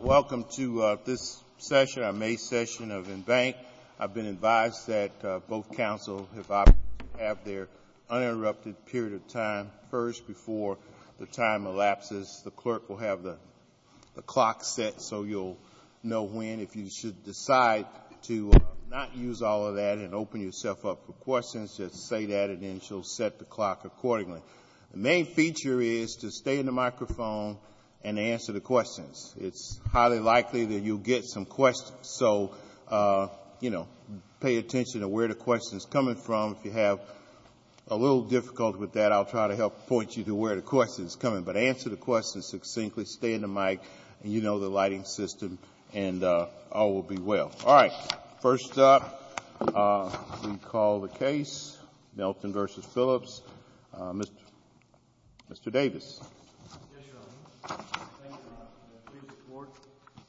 Welcome to this May session of Embanked. I've been advised that both councils have to have their uninterrupted period of time first before the time elapses. The clerk will have the clock set so you'll know when, if you should decide to not use all of that and open yourself up for questions, just say that and then she'll set the clock accordingly. The main feature is to stay in the microphone and answer the questions. It's highly likely that you'll get some questions, so pay attention to where the question is coming from. If you have a little difficulty with that, I'll try to help point you to where the question is coming. But answer the question succinctly, stay in the mic, and you know the lighting system, and all will be well. All right. First up, we call the case, Melton v. Phillips. Mr. Davis. Yes, Your Honor. Thank you, Your Honor. Can I please report,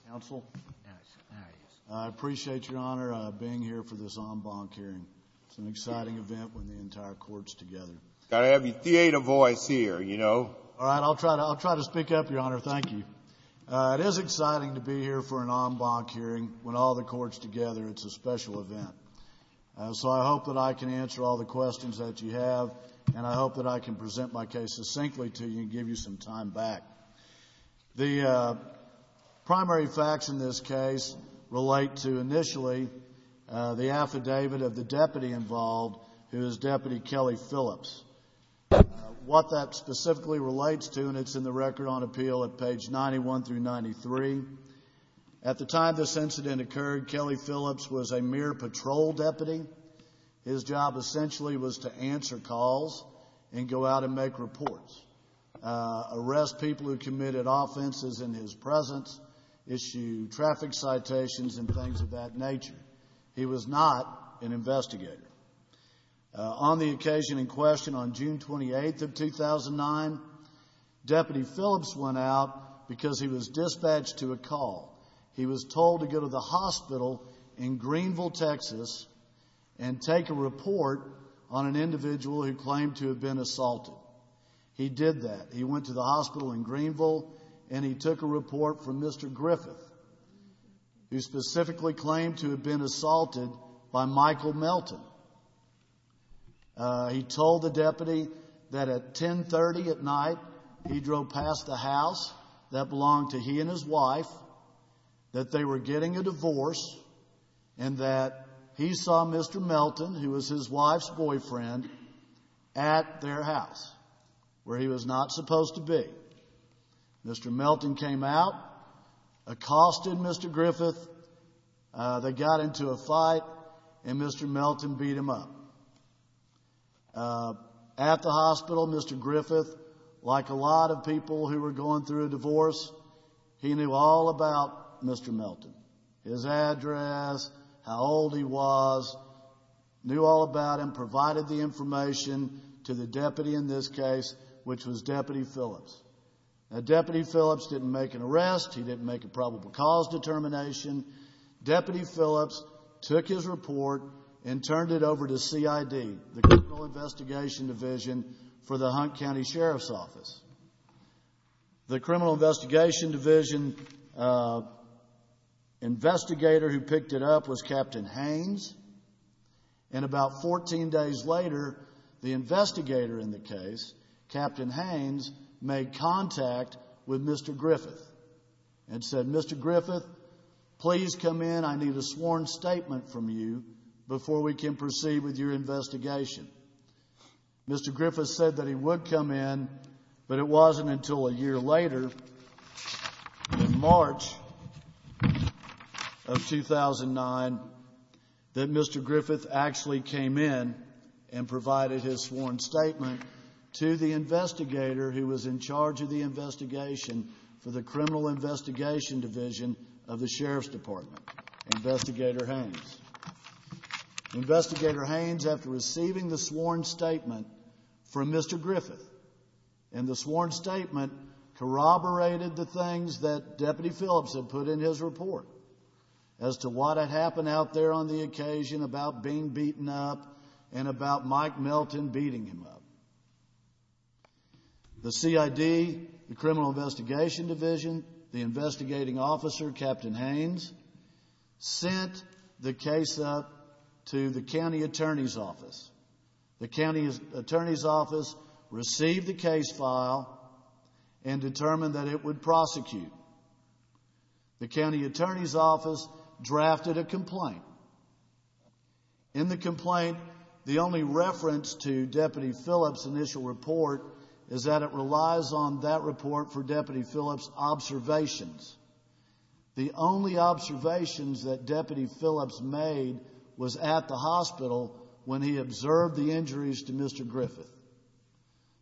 counsel? Yes. I appreciate, Your Honor, being here for this en banc hearing. It's an exciting event when the entire court's together. Got to have your theater voice here, you know. All right. I'll try to speak up, Your Honor. Thank you. It is exciting to be here for an en banc hearing when all the court's together. It's a special event. So I hope that I can answer all the questions that you have, and I hope that I can present my case succinctly to you and give you some time back. The primary facts in this case relate to, initially, the affidavit of the deputy involved, who is Deputy Kelly Phillips. What that specifically relates to, and it's in the Record on Appeal at page 91 through 93, at the time this incident occurred, Kelly Phillips was a mere patrol deputy. His job, essentially, was to answer calls and go out and make reports, arrest people who committed offenses in his presence, issue traffic citations and things of that nature. He was not an investigator. On the occasion in question, on June 28th of 2009, Deputy Phillips went out because he was dispatched to a call. He was told to go to the hospital in Greenville, Texas, and take a report on an individual who claimed to have been assaulted. He did that. He went to the hospital in Greenville, and he took a report from Mr. Griffith, who specifically claimed to have been assaulted by Michael Melton. He told the deputy that at 10.30 at night, he drove past the house that belonged to he and his wife, that they were getting a divorce, and that he saw Mr. Melton, who was his wife's boyfriend, at their house, where he was not supposed to be. Mr. Melton came out, accosted Mr. Griffith, they got into a fight, and Mr. Melton beat him up. At the hospital, Mr. Griffith, like a lot of people who were going through a divorce, he knew all about Mr. Melton. His address, how old he was, knew all about him, provided the information to the deputy in this case, which was Deputy Phillips. Now, Deputy Phillips didn't make an arrest. He didn't make a probable cause determination. Deputy Phillips took his report and turned it over to CID, the Criminal Investigation Division, for the Hunt County Sheriff's Office. The Criminal Investigation Division investigator who picked it up was Captain Haynes, and about 14 days later, the investigator in the case, Captain Haynes, made contact with Mr. Griffith and said, Mr. Griffith, please come in. I need a sworn statement from you before we can proceed with your investigation. Mr. Griffith said that he would come in, but it wasn't until a year later, in March of 2009, that Mr. Griffith actually came in and provided his sworn statement to the investigator who was in charge of the investigation for the Criminal Investigation Division of the Sheriff's Department, Investigator Haynes. Investigator Haynes, after receiving the sworn statement from Mr. Griffith, and the sworn statement corroborated the things that Deputy Phillips had put in his report as to what had happened out there on the occasion about being beaten up and about Mike Melton beating him up. The CID, the Criminal Investigation Division, the investigating officer, Captain Haynes, sent the case up to the County Attorney's Office. The County Attorney's Office received the case file and determined that it would prosecute. The County Attorney's Office drafted a complaint. In the complaint, the only reference to Deputy Phillips' initial report is that it relies on that report for Deputy Phillips' observations. The only observations that Deputy Phillips made was at the hospital when he observed the injuries to Mr. Griffith.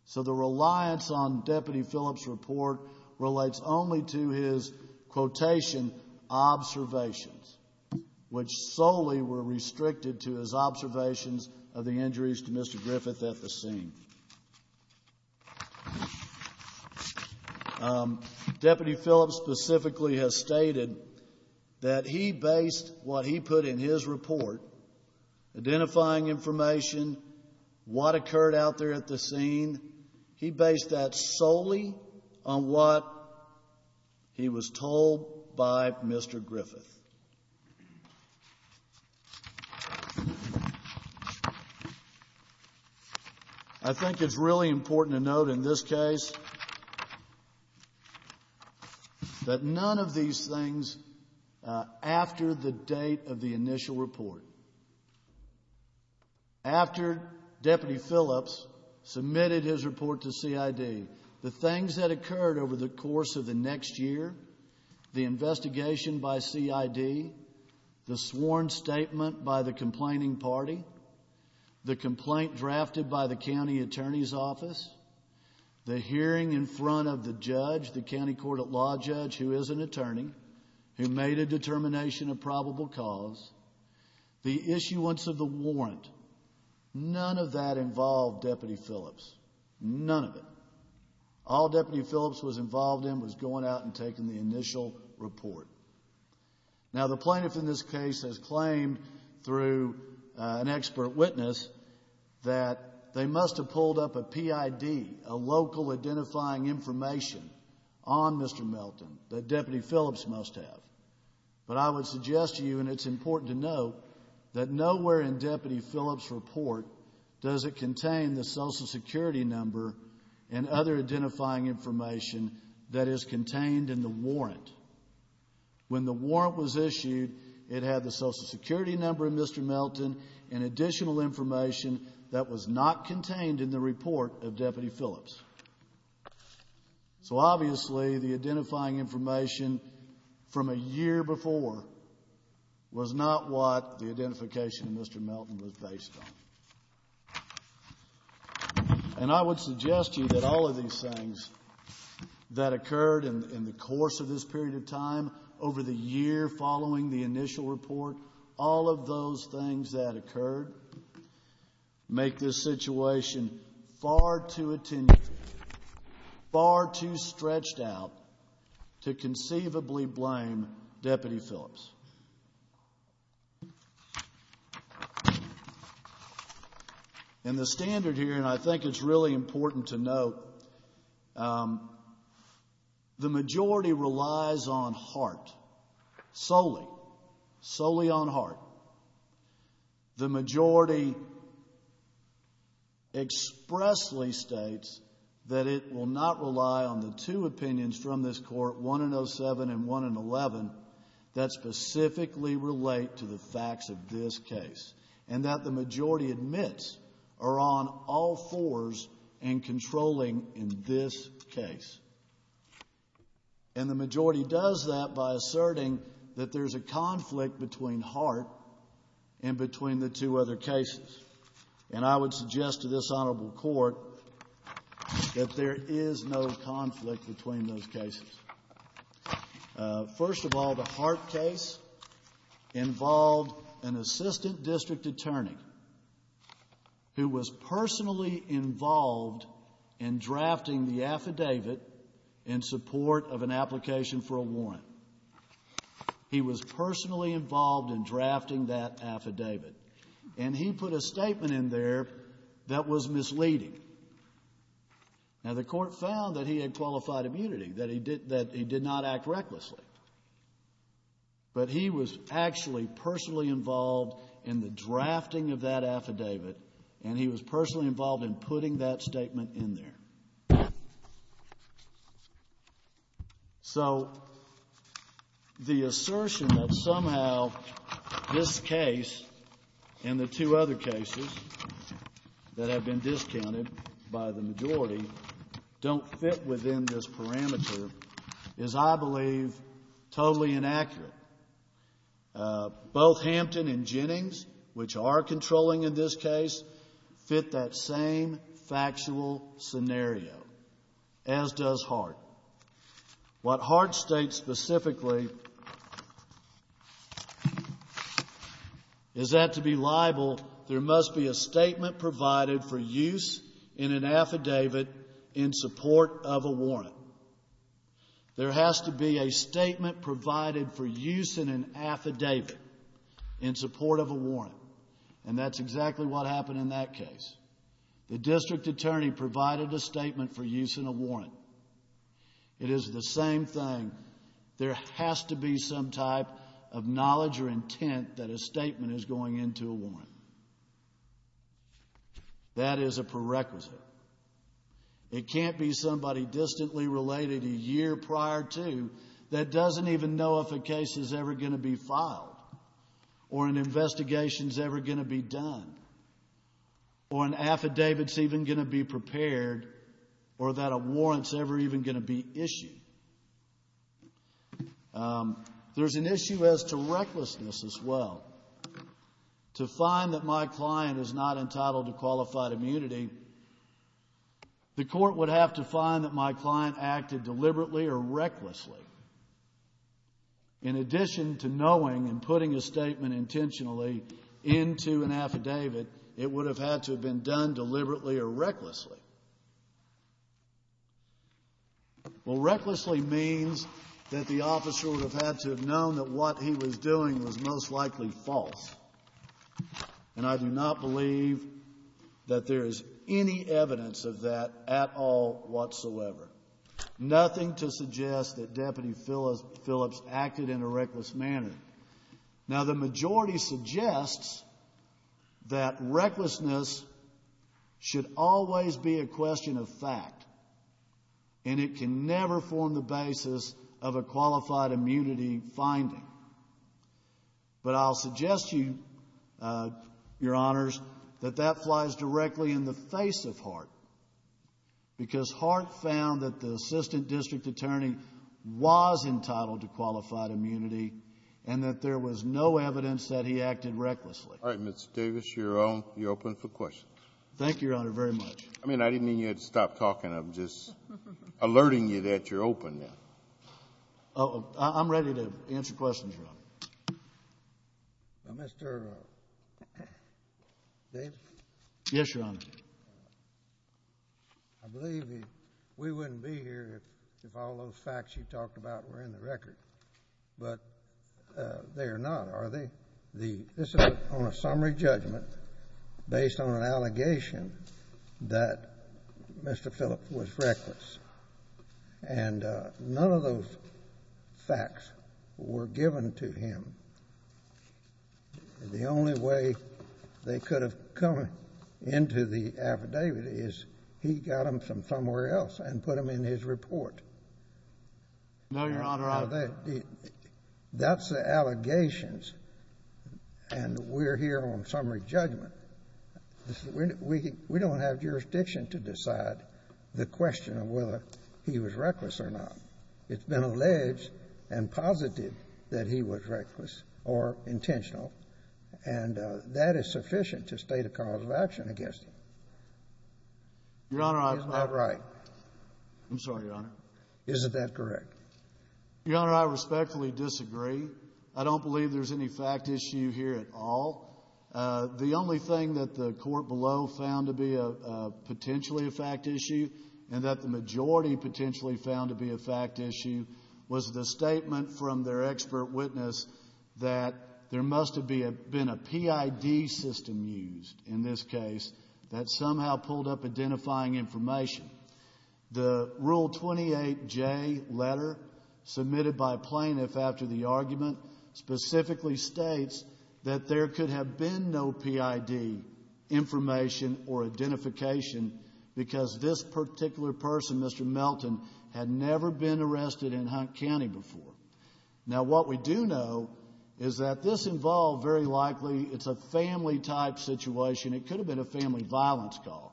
So the reliance on Deputy Phillips' report relates only to his quotation, observations, which solely were restricted to his observations of the injuries to Mr. Griffith at the scene. Deputy Phillips specifically has stated that he based what he put in his report, identifying information, what occurred out there at the scene, he based that solely on what he was told by Mr. Griffith. I think it's really important to note in this case that none of these things after the date of the initial report, after Deputy Phillips submitted his report to CID, the things that occurred over the course of the next year, the investigation by CID, the sworn statement by the complaining party, the complaint drafted by the County Attorney's Office, the hearing in front of the judge, the county court at law judge who is an attorney, who made a determination of probable cause, the issuance of the warrant, none of that involved Deputy Phillips, none of it. All Deputy Phillips was involved in was going out and taking the initial report. Now, the plaintiff in this case has claimed through an expert witness that they must have pulled up a PID, a local identifying information, on Mr. Melton that Deputy Phillips must have. But I would suggest to you, and it's important to note, that nowhere in Deputy Phillips' report does it contain the Social Security number and other identifying information that is contained in the warrant. When the warrant was issued, it had the Social Security number of Mr. Melton and additional information that was not contained in the report of Deputy Phillips. So obviously, the identifying information from a year before was not what the identification of Mr. Melton was based on. And I would suggest to you that all of these things that occurred in the course of this period of time, over the year following the initial report, all of those things that occurred, make this situation far too attenuated, far too stretched out to conceivably blame Deputy Phillips. And the standard here, and I think it's really important to note, the majority relies on heart, solely, solely on heart. The majority expressly states that it will not rely on the two opinions from this Court, 1 in 07 and 1 in 11, that specifically relate to the facts of this case, and that the majority admits are on all fours in controlling in this case. And the majority does that by asserting that there's a conflict between heart and between the two other cases. And I would suggest to this Honorable Court that there is no conflict between those cases. First of all, the heart case involved an assistant district attorney who was personally involved in drafting the affidavit in support of an application for a warrant. He was personally involved in drafting that affidavit. And he put a statement in there that was misleading. Now, the Court found that he had qualified immunity, that he did not act recklessly. But he was actually personally involved in the drafting of that affidavit, and he was personally involved in putting that statement in there. So the assertion that somehow this case and the two other cases that have been discounted by the majority don't fit within this parameter is, I believe, totally inaccurate. Both Hampton and Jennings, which are controlling in this case, fit that same factual scenario, as does heart. What heart states specifically is that to be liable, there must be a statement provided for use in an affidavit in support of a warrant. There has to be a statement provided for use in an affidavit in support of a warrant. And that's exactly what happened in that case. The district attorney provided a statement for use in a warrant. It is the same thing. There has to be some type of knowledge or intent that a statement is going into a warrant. That is a prerequisite. It can't be somebody distantly related a year prior to that doesn't even know if a case is ever going to be filed or an investigation is ever going to be done or an affidavit is even going to be prepared or that a warrant is ever even going to be issued. There's an issue as to recklessness as well. To find that my client is not entitled to qualified immunity, the court would have to find that my client acted deliberately or recklessly. In addition to knowing and putting a statement intentionally into an affidavit, it would have had to have been done deliberately or recklessly. Well, recklessly means that the officer would have had to have known that what he was doing was most likely false. And I do not believe that there is any evidence of that at all whatsoever. Nothing to suggest that Deputy Phillips acted in a reckless manner. Now, the majority suggests that recklessness should always be a question of fact and it can never form the basis of a qualified immunity finding. But I'll suggest to you, Your Honors, that that flies directly in the face of Hart because Hart found that the assistant district attorney was entitled to qualified immunity and that there was no evidence that he acted recklessly. All right, Mr. Davis, you're open for questions. Thank you, Your Honor, very much. I mean, I didn't mean you had to stop talking. I'm just alerting you that you're open now. I'm ready to answer questions, Your Honor. Now, Mr. Davis? Yes, Your Honor. I believe we wouldn't be here if all those facts you talked about were in the record. But they are not, are they? This is on a summary judgment based on an allegation that Mr. Phillips was reckless. And none of those facts were given to him. The only way they could have come into the affidavit is he got them from somewhere else and put them in his report. No, Your Honor. That's the allegations, and we're here on summary judgment. We don't have jurisdiction to decide the question of whether he was reckless or not. It's been alleged and posited that he was reckless or intentional, and that is sufficient to state a cause of action against him. Your Honor, I was not. He's not right. I'm sorry, Your Honor. Isn't that correct? Your Honor, I respectfully disagree. I don't believe there's any fact issue here at all. The only thing that the court below found to be potentially a fact issue and that the majority potentially found to be a fact issue was the statement from their expert witness that there must have been a PID system used in this case that somehow pulled up identifying information. The Rule 28J letter submitted by plaintiff after the argument specifically states that there could have been no PID information or identification because this particular person, Mr. Melton, had never been arrested in Hunt County before. Now, what we do know is that this involved very likely it's a family-type situation. It could have been a family violence call.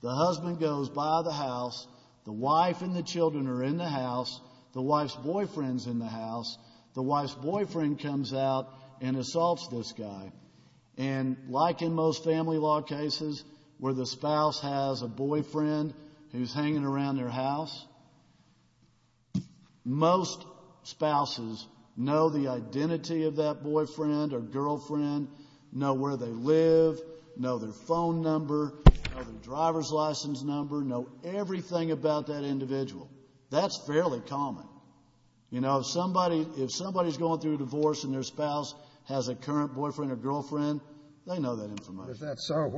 The husband goes by the house. The wife and the children are in the house. The wife's boyfriend's in the house. The wife's boyfriend comes out and assaults this guy. And like in most family law cases where the spouse has a boyfriend who's hanging around their house, most spouses know the identity of that boyfriend or girlfriend, know where they live, know their phone number, know their driver's license number, know everything about that individual. That's fairly common. You know, if somebody's going through a divorce and their spouse has a current boyfriend or girlfriend, they know that information. If that's so,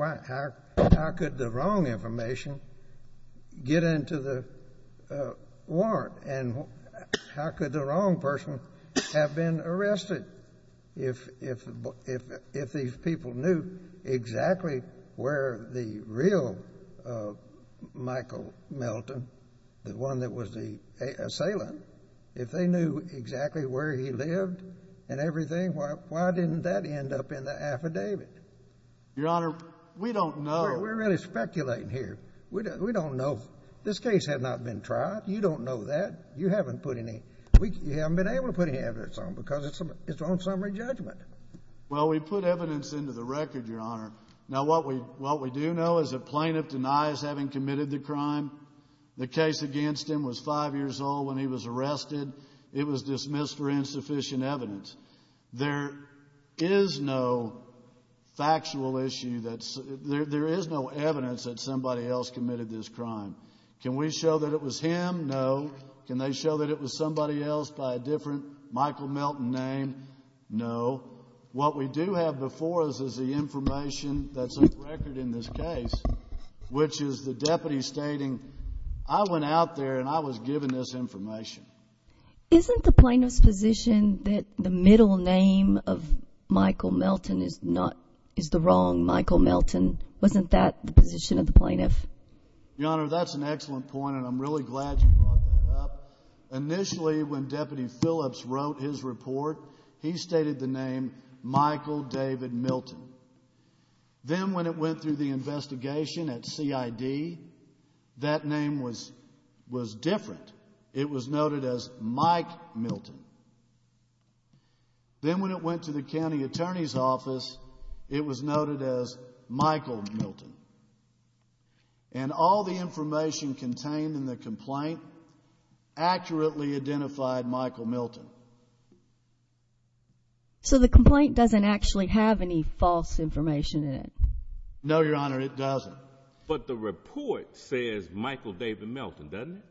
how could the wrong information get into the warrant? And how could the wrong person have been arrested? If these people knew exactly where the real Michael Melton, the one that was the assailant, if they knew exactly where he lived and everything, why didn't that end up in the affidavit? Your Honor, we don't know. We're really speculating here. We don't know. This case had not been tried. You don't know that. You haven't been able to put any evidence on it because it's on summary judgment. Well, we put evidence into the record, Your Honor. Now, what we do know is that plaintiff denies having committed the crime. The case against him was five years old when he was arrested. It was dismissed for insufficient evidence. There is no factual issue. There is no evidence that somebody else committed this crime. Can we show that it was him? No. Can they show that it was somebody else by a different Michael Melton name? No. What we do have before us is the information that's on record in this case, which is the deputy stating, I went out there and I was given this information. Isn't the plaintiff's position that the middle name of Michael Melton is the wrong Michael Melton? Wasn't that the position of the plaintiff? Your Honor, that's an excellent point, and I'm really glad you brought that up. Initially, when Deputy Phillips wrote his report, he stated the name Michael David Melton. Then when it went through the investigation at CID, that name was different. It was noted as Mike Melton. Then when it went to the county attorney's office, it was noted as Michael Melton. And all the information contained in the complaint accurately identified Michael Melton. So the complaint doesn't actually have any false information in it? No, Your Honor, it doesn't. But the report says Michael David Melton, doesn't it?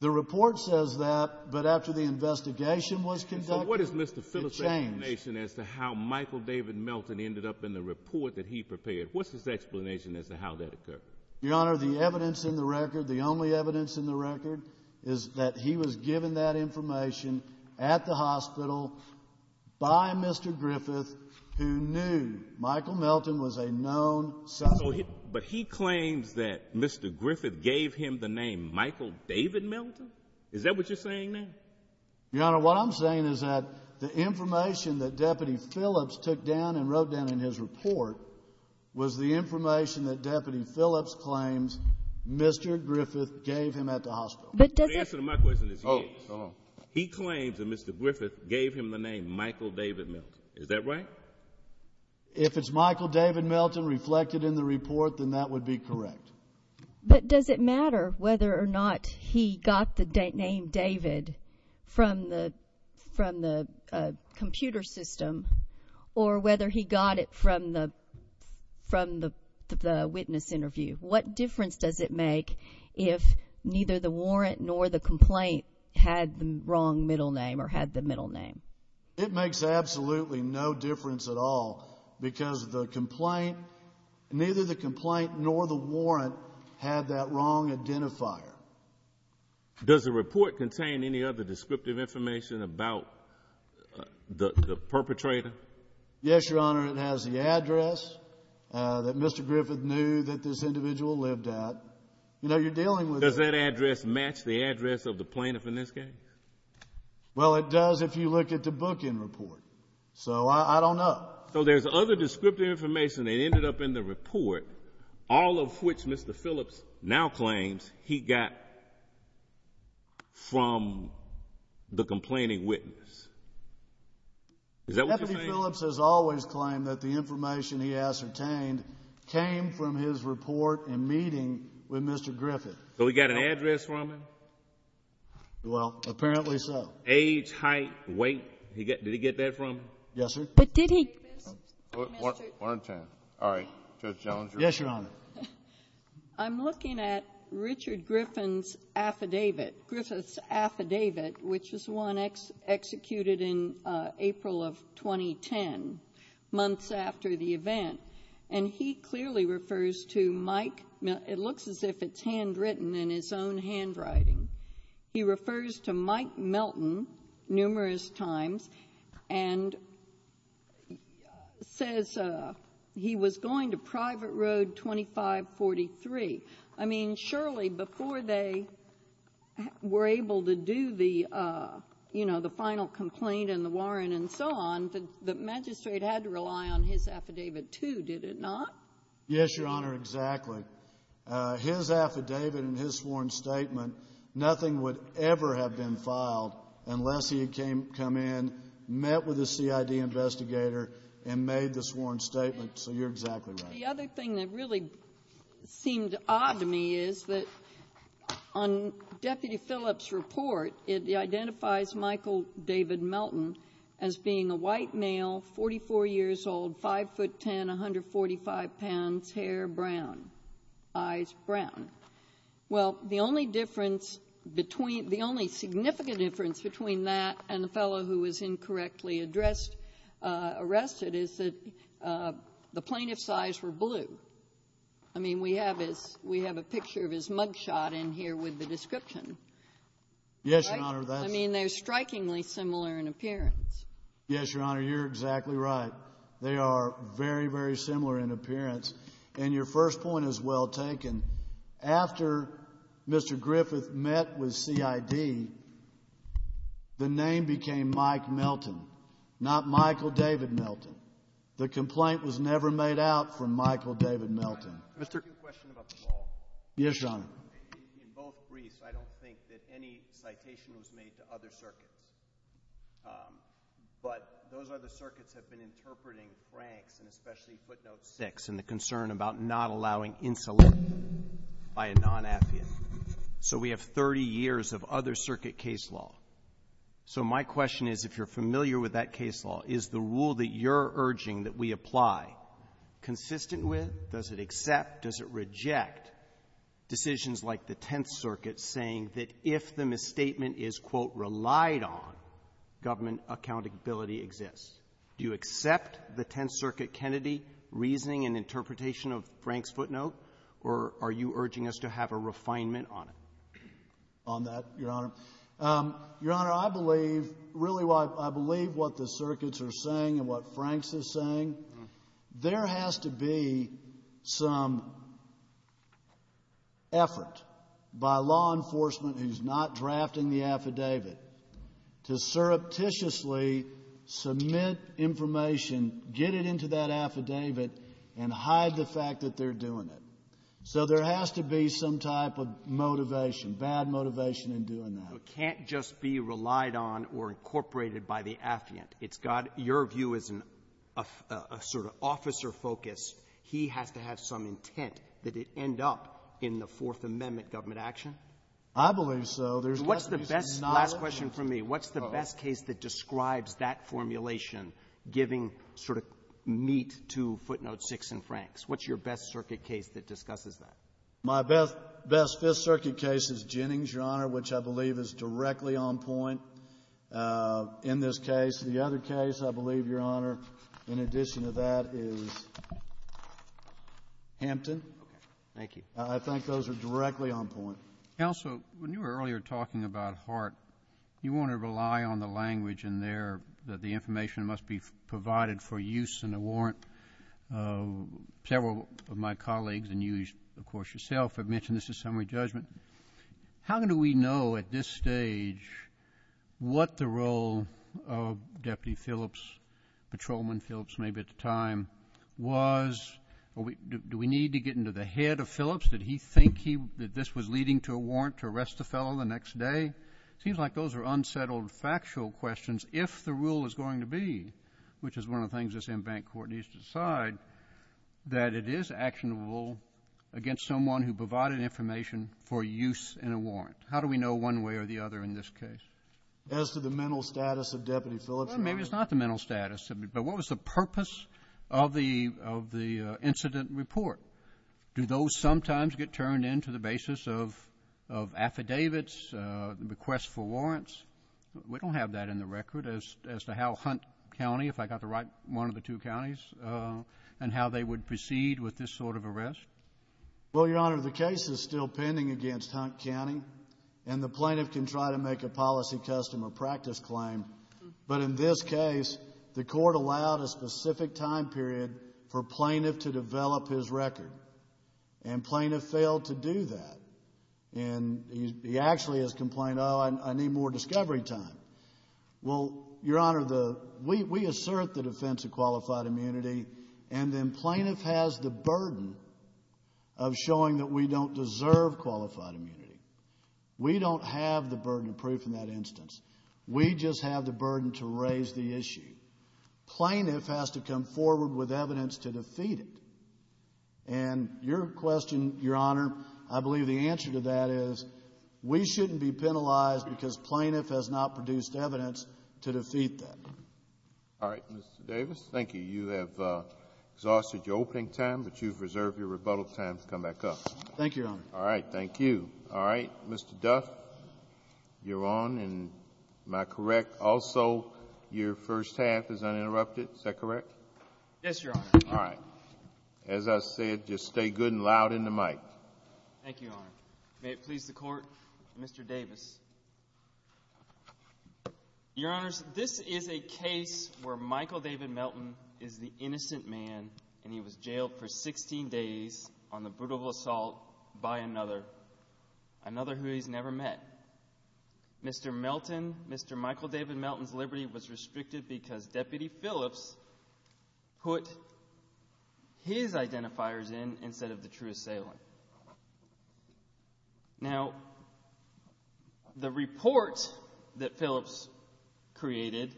The report says that, but after the investigation was conducted, it changed. So what is Mr. Phillips' explanation as to how Michael David Melton ended up in the report that he prepared? What's his explanation as to how that occurred? Your Honor, the evidence in the record, the only evidence in the record, is that he was given that information at the hospital by Mr. Griffith, who knew Michael Melton was a known suspect. But he claims that Mr. Griffith gave him the name Michael David Melton? Is that what you're saying now? Your Honor, what I'm saying is that the information that Deputy Phillips took down and wrote down in his report was the information that Deputy Phillips claims Mr. Griffith gave him at the hospital. The answer to my question is yes. He claims that Mr. Griffith gave him the name Michael David Melton. Is that right? If it's Michael David Melton reflected in the report, then that would be correct. But does it matter whether or not he got the name David from the computer system or whether he got it from the witness interview? What difference does it make if neither the warrant nor the complaint had the wrong middle name or had the middle name? It makes absolutely no difference at all because neither the complaint nor the warrant had that wrong identifier. Does the report contain any other descriptive information about the perpetrator? Yes, Your Honor. It has the address that Mr. Griffith knew that this individual lived at. Does that address match the address of the plaintiff in this case? Well, it does if you look at the bookend report, so I don't know. So there's other descriptive information that ended up in the report, all of which Mr. Phillips now claims he got from the complaining witness. Is that what you're saying? Deputy Phillips has always claimed that the information he ascertained came from his report and meeting with Mr. Griffith. So he got an address from him? Well, apparently so. Age, height, weight? Did he get that from him? Yes, sir. But did he? One at a time. All right. Judge Jones. Yes, Your Honor. I'm looking at Richard Griffith's affidavit, which is one executed in April of 2010, months after the event, and he clearly refers to Mike. It looks as if it's handwritten in his own handwriting. He refers to Mike Melton numerous times and says he was going to Private Road 2543. I mean, surely before they were able to do the final complaint and the warrant and so on, the magistrate had to rely on his affidavit too, did it not? Yes, Your Honor, exactly. His affidavit and his sworn statement, nothing would ever have been filed unless he had come in, met with a CID investigator, and made the sworn statement. So you're exactly right. The other thing that really seemed odd to me is that on Deputy Phillips' report, it identifies Michael David Melton as being a white male, 44 years old, 5'10", 145 pounds, hair brown, eyes brown. Well, the only difference between the only significant difference between that and the fellow who was incorrectly addressed, arrested, is that the plaintiff's eyes were blue. I mean, we have his we have a picture of his mug shot in here with the description. Yes, Your Honor, that's I mean, they're strikingly similar in appearance. Yes, Your Honor, you're exactly right. They are very, very similar in appearance. And your first point is well taken. After Mr. Griffith met with CID, the name became Mike Melton, not Michael David Melton. The complaint was never made out for Michael David Melton. Can I ask you a question about the law? Yes, Your Honor. In both briefs, I don't think that any citation was made to other circuits. But those other circuits have been interpreting Frank's, and especially footnote 6, and the concern about not allowing insolent by a non-affiant. So we have 30 years of other circuit case law. So my question is, if you're familiar with that case law, is the rule that you're accept, does it reject decisions like the Tenth Circuit saying that if the misstatement is, quote, relied on, government accountability exists? Do you accept the Tenth Circuit Kennedy reasoning and interpretation of Frank's footnote? Or are you urging us to have a refinement on it? On that, Your Honor. Your Honor, I believe, really I believe what the circuits are saying and what Frank's is saying. There has to be some effort by law enforcement who's not drafting the affidavit to surreptitiously submit information, get it into that affidavit, and hide the fact that they're doing it. So there has to be some type of motivation, bad motivation in doing that. It can't just be relied on or incorporated by the affiant. It's got — your view is a sort of officer focus. He has to have some intent that it end up in the Fourth Amendment government action? I believe so. There's got to be some knowledge. What's the best — last question from me. What's the best case that describes that formulation, giving sort of meat to footnote 6 in Frank's? What's your best circuit case that discusses that? My best Fifth Circuit case is Jennings, Your Honor, which I believe is directly on point in this case. The other case, I believe, Your Honor, in addition to that is Hampton. Thank you. I think those are directly on point. Also, when you were earlier talking about Hart, you want to rely on the language in there that the information must be provided for use in a warrant. Several of my colleagues, and you, of course, yourself, have mentioned this is summary judgment. How do we know at this stage what the role of Deputy Phillips, Patrolman Phillips maybe at the time, was? Do we need to get into the head of Phillips? Did he think that this was leading to a warrant to arrest the fellow the next day? It seems like those are unsettled factual questions if the rule is going to be, which is one of the things this en banc court needs to decide, that it is actionable against someone who provided information for use in a warrant. How do we know one way or the other in this case? As to the mental status of Deputy Phillips? Maybe it's not the mental status, but what was the purpose of the incident report? Do those sometimes get turned in to the basis of affidavits, requests for warrants? We don't have that in the record as to how Hunt County, if I got the right one of the two counties, and how they would proceed with this sort of arrest. Well, Your Honor, the case is still pending against Hunt County, and the plaintiff can try to make a policy custom or practice claim. But in this case, the court allowed a specific time period for plaintiff to develop his record, and plaintiff failed to do that. And he actually has complained, oh, I need more discovery time. Well, Your Honor, we assert the defense of qualified immunity, and then plaintiff has the burden of showing that we don't deserve qualified immunity. We don't have the burden of proof in that instance. We just have the burden to raise the issue. Plaintiff has to come forward with evidence to defeat it. And your question, Your Honor, I believe the answer to that is we shouldn't be penalized because plaintiff has not produced evidence to defeat that. All right. Mr. Davis, thank you. You have exhausted your opening time, but you've reserved your rebuttal time to come back up. Thank you, Your Honor. All right. Thank you. All right. Mr. Duff, you're on, and am I correct also your first half is uninterrupted? Is that correct? Yes, Your Honor. All right. As I said, just stay good and loud in the mic. Thank you, Your Honor. May it please the Court, Mr. Davis. Your Honors, this is a case where Michael David Melton is the innocent man, and he was jailed for 16 days on the brutal assault by another, another who he's never met. Mr. Melton, Mr. Michael David Melton's liberty was restricted because Deputy Phillips put his identifiers in instead of the true assailant. Now, the report that Phillips created,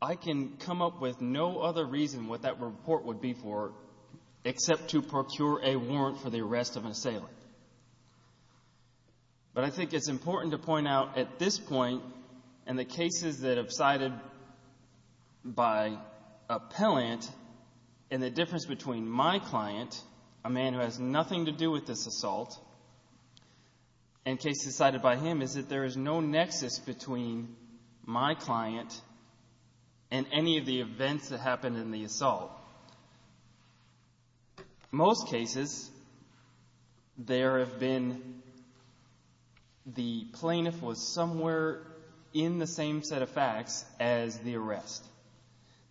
I can come up with no other reason what that report would be for except to procure a warrant for the arrest of an assailant. But I think it's important to point out at this point, and the cases that have cited by appellant, and the difference between my client, a man who has nothing to do with this assault, and cases cited by him is that there is no nexus between my client and any of the events that happened in the assault. Most cases, there have been, the plaintiff was somewhere in the same set of facts as the arrest.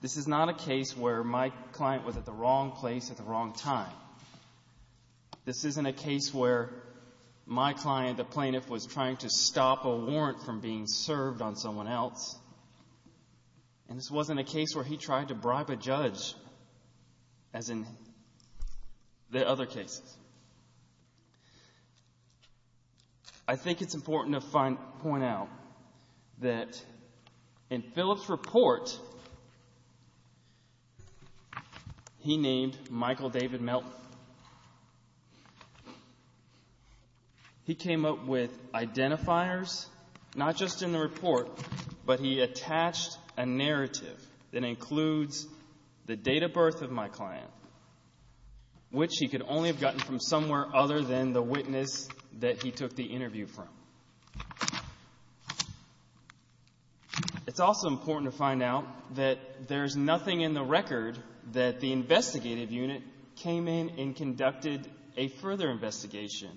This is not a case where my client was at the wrong place at the wrong time. This isn't a case where my client, the plaintiff, was trying to stop a warrant from being served on someone else. And this wasn't a case where he tried to bribe a judge as in the other cases. I think it's important to point out that in Phillips' report, he named Michael David Melton. He came up with identifiers not just in the report, but he attached a narrative that includes the date of birth of my client, which he could only have gotten from somewhere other than the witness that he took the interview from. It's also important to find out that there's nothing in the record that the investigative unit came in and conducted a further investigation.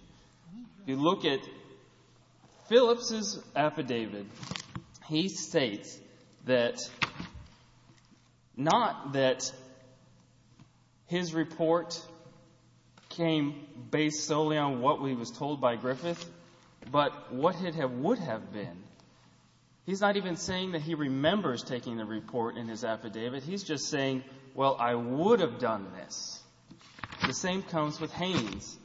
If you look at Phillips' affidavit, he states that, not that his report came based solely on what he was told by Griffith, but what it would have been. He's not even saying that he remembers taking the report in his affidavit. He's just saying, well, I would have done this. The same comes with Haynes.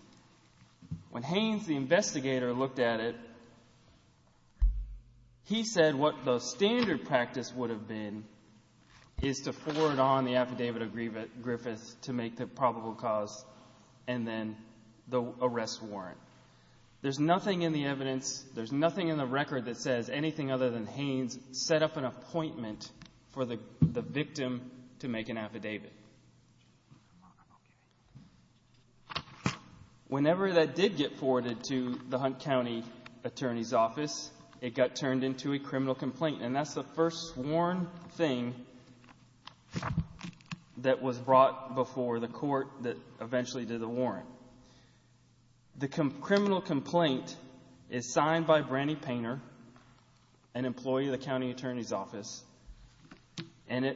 When Haynes, the investigator, looked at it, he said what the standard practice would have been is to forward on the affidavit of Griffith to make the probable cause and then the arrest warrant. There's nothing in the evidence, there's nothing in the record that says anything other than Haynes set up an appointment for the victim to make an affidavit. Whenever that did get forwarded to the Hunt County Attorney's Office, it got turned into a criminal complaint, and that's the first sworn thing that was brought before the court that eventually did the warrant. The criminal complaint is signed by Brandy Painter, an employee of the county attorney's office, and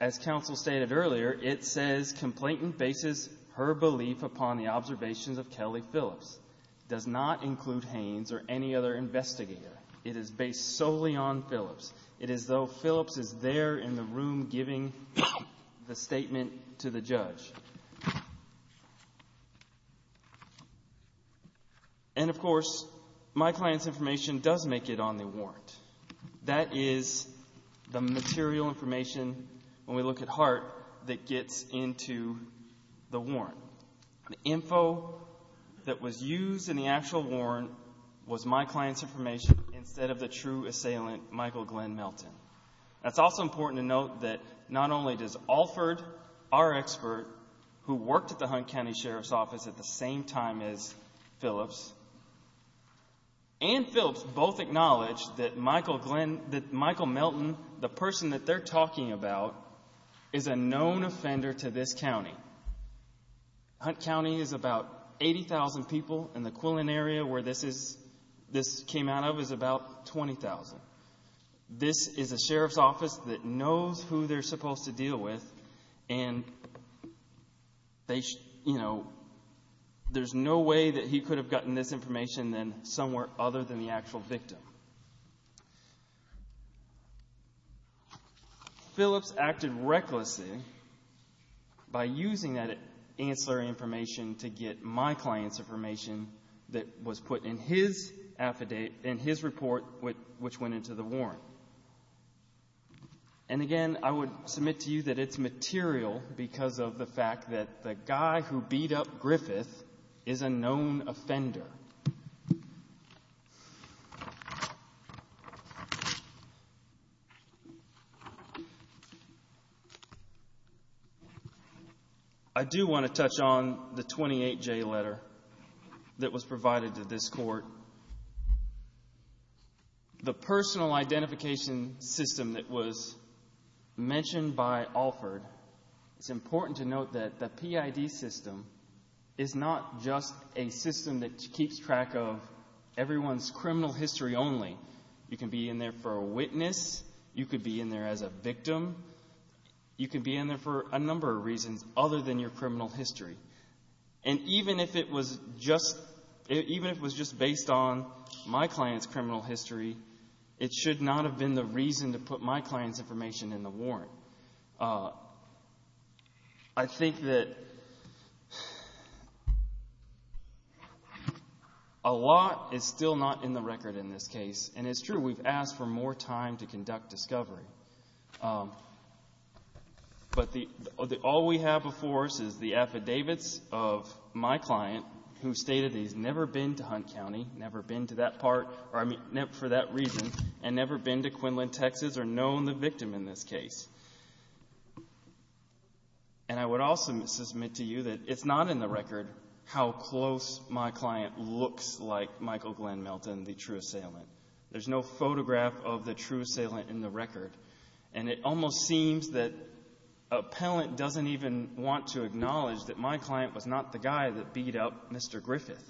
as counsel stated earlier, it says complainant bases her belief upon the observations of Kelly Phillips, does not include Haynes or any other investigator. It is based solely on Phillips. It is though Phillips is there in the room giving the statement to the judge. And, of course, my client's information does make it on the warrant. That is the material information, when we look at Hart, that gets into the warrant. The info that was used in the actual warrant was my client's information instead of the true assailant, Michael Glenn Melton. It's also important to note that not only does Alford, our expert, who worked at the Hunt County Sheriff's Office at the same time as Phillips, and Phillips both acknowledge that Michael Melton, the person that they're talking about, is a known offender to this county. Hunt County is about 80,000 people, and the Quillen area where this came out of is about 20,000. This is a sheriff's office that knows who they're supposed to deal with, and there's no way that he could have gotten this information somewhere other than the actual victim. Phillips acted recklessly by using that ancillary information to get my client's information that was put in his affidavit, in his report which went into the warrant. And, again, I would submit to you that it's material because of the fact that the guy who beat up Griffith is a known offender. I do want to touch on the 28J letter that was provided to this court. The personal identification system that was mentioned by Alford, it's important to note that the PID system is not just a system that keeps track of everyone's criminal history only. You can be in there for a witness. You could be in there as a victim. You could be in there for a number of reasons other than your criminal history. And even if it was just based on my client's criminal history, it should not have been the reason to put my client's information in the warrant. I think that a lot is still not in the record in this case, and it's true, we've asked for more time to conduct discovery. But all we have before us is the affidavits of my client who stated he's never been to Hunt County, never been to that part for that reason, and never been to Quinlan, Texas or known the victim in this case. And I would also submit to you that it's not in the record how close my client looks like Michael Glenn Melton, the true assailant. There's no photograph of the true assailant in the record, and it almost seems that appellant doesn't even want to acknowledge that my client was not the guy that beat up Mr. Griffith.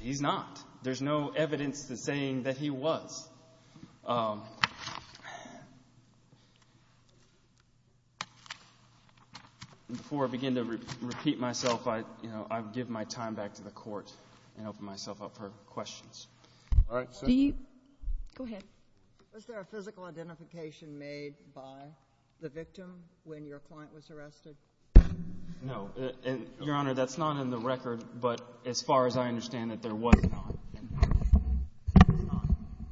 He's not. There's no evidence that's saying that he was. Before I begin to repeat myself, I give my time back to the Court and open myself up for questions. Go ahead. Was there a physical identification made by the victim when your client was arrested? No. Your Honor, that's not in the record, but as far as I understand it, there was not.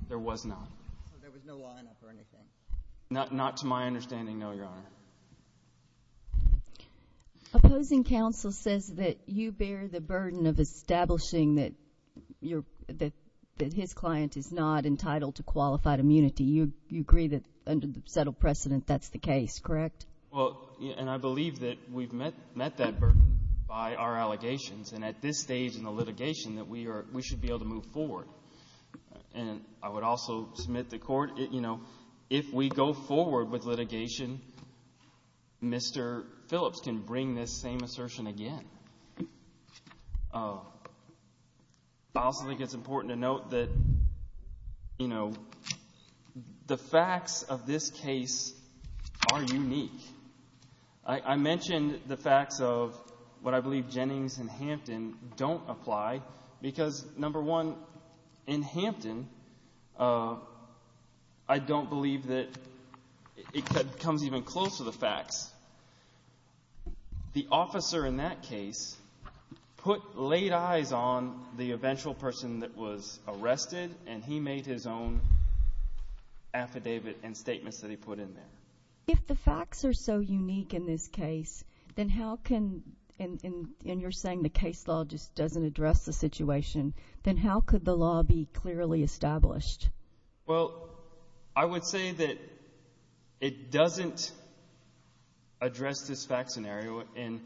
There was not. So there was no line-up or anything? Not to my understanding, no, Your Honor. Opposing counsel says that you bear the burden of establishing that his client is not entitled to qualified immunity. You agree that under the settled precedent that's the case, correct? Well, and I believe that we've met that burden by our allegations, and at this stage in the litigation that we should be able to move forward. And I would also submit to the Court, you know, if we go forward with litigation, Mr. Phillips can bring this same assertion again. I also think it's important to note that, you know, the facts of this case are unique. I mentioned the facts of what I believe Jennings and Hampton don't apply because, number one, in Hampton, I don't believe that it comes even close to the facts. The officer in that case put late eyes on the eventual person that was arrested, and he made his own affidavit and statements that he put in there. If the facts are so unique in this case, then how can, and you're saying the case law just doesn't address the situation, then how could the law be clearly established? Well, I would say that it doesn't address this fact scenario, and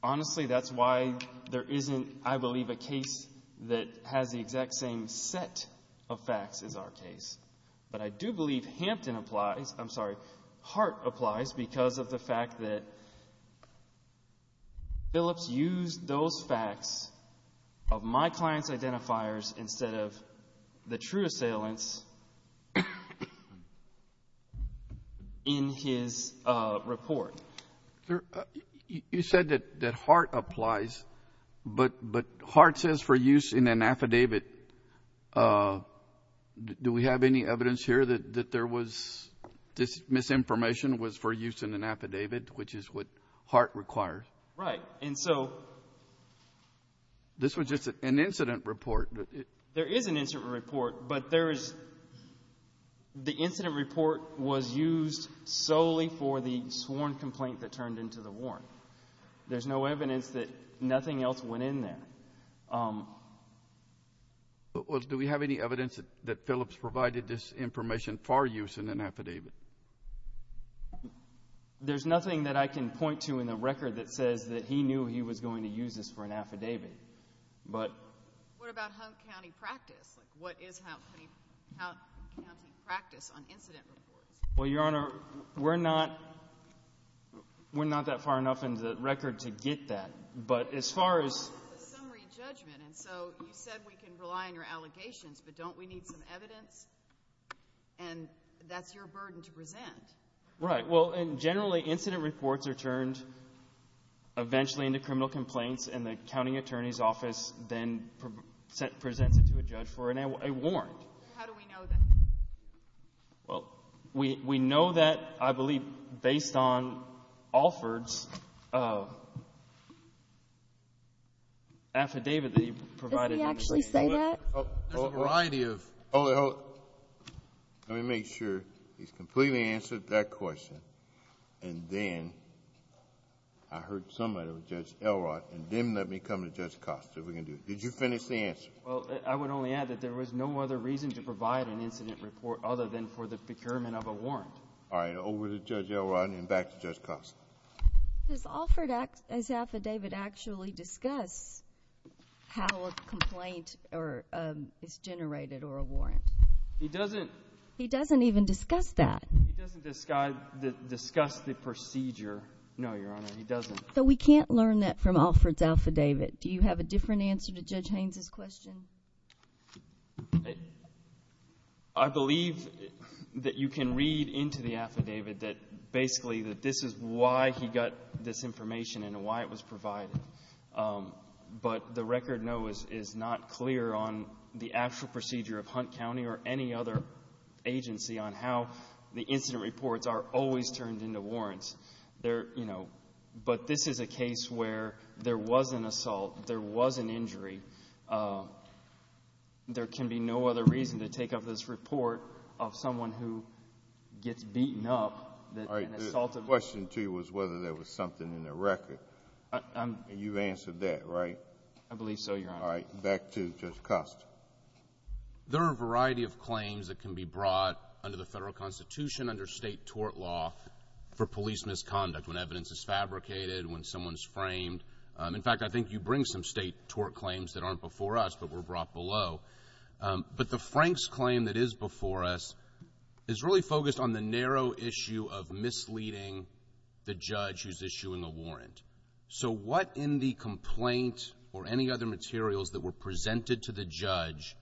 honestly, that's why there isn't, I believe, a case that has the exact same set of facts as our case. But I do believe Hampton applies. I'm sorry, Hart applies because of the fact that Phillips used those facts of my client's identifiers instead of the true assailants in his report. You said that Hart applies, but Hart says for use in an affidavit. Do we have any evidence here that there was, this misinformation was for use in an affidavit, which is what Hart requires? Right. This was just an incident report. There is an incident report, but the incident report was used solely for the sworn complaint that turned into the warrant. There's no evidence that nothing else went in there. Do we have any evidence that Phillips provided this information for use in an affidavit? There's nothing that I can point to in the record that says that he knew he was going to use this for an affidavit. What about Hunt County practice? What is Hunt County practice on incident reports? Well, Your Honor, we're not that far enough in the record to get that, but as far as— It's a summary judgment, and so you said we can rely on your allegations, but don't we need some evidence? And that's your burden to present. Right. Well, generally, incident reports are turned eventually into criminal complaints, and the county attorney's office then presents it to a judge for a warrant. How do we know that? Well, we know that, I believe, based on Alford's affidavit that he provided. Does he actually say that? There's a variety of— Hold it, hold it. Let me make sure he's completely answered that question, and then I heard somebody with Judge Elrod, and then let me come to Judge Costa. We can do it. Did you finish the answer? Well, I would only add that there was no other reason to provide an incident report other than for the procurement of a warrant. All right. Over to Judge Elrod, and then back to Judge Costa. Does Alford's affidavit actually discuss how a complaint is generated or a warrant? He doesn't. He doesn't even discuss that. He doesn't discuss the procedure. No, Your Honor, he doesn't. So we can't learn that from Alford's affidavit. Do you have a different answer to Judge Haynes' question? I believe that you can read into the affidavit that, basically, that this is why he got this information and why it was provided. But the record, no, is not clear on the actual procedure of Hunt County or any other agency on how the incident reports are always turned into warrants. But this is a case where there was an assault, there was an injury. There can be no other reason to take up this report of someone who gets beaten up. All right. The question to you was whether there was something in the record. And you've answered that, right? I believe so, Your Honor. All right. Back to Judge Costa. There are a variety of claims that can be brought under the federal constitution, under state tort law, for police misconduct, when evidence is fabricated, when someone's framed. In fact, I think you bring some state tort claims that aren't before us but were brought below. But the Frank's claim that is before us is really focused on the narrow issue of misleading the judge who's issuing a warrant. So what in the complaint or any other materials that were presented to the judge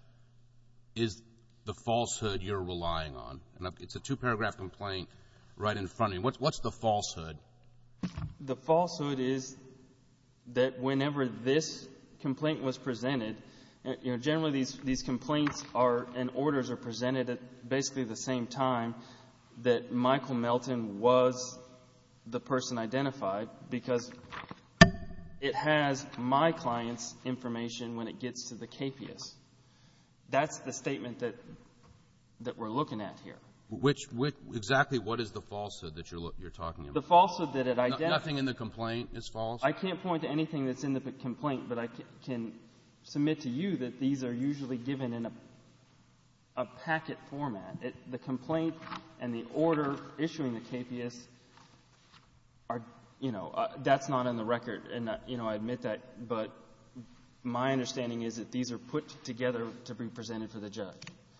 is the falsehood you're relying on? It's a two-paragraph complaint right in front of you. What's the falsehood? The falsehood is that whenever this complaint was presented, generally these complaints and orders are presented at basically the same time that Michael Melton was the person identified because it has my client's information when it gets to the KPS. That's the statement that we're looking at here. Exactly what is the falsehood that you're talking about? The falsehood that it identifies. Nothing in the complaint is false? I can't point to anything that's in the complaint, but I can submit to you that these are usually given in a packet format. The complaint and the order issuing the KPS are, you know, that's not in the record. And, you know, I admit that, but my understanding is that these are put together to be presented for the judge.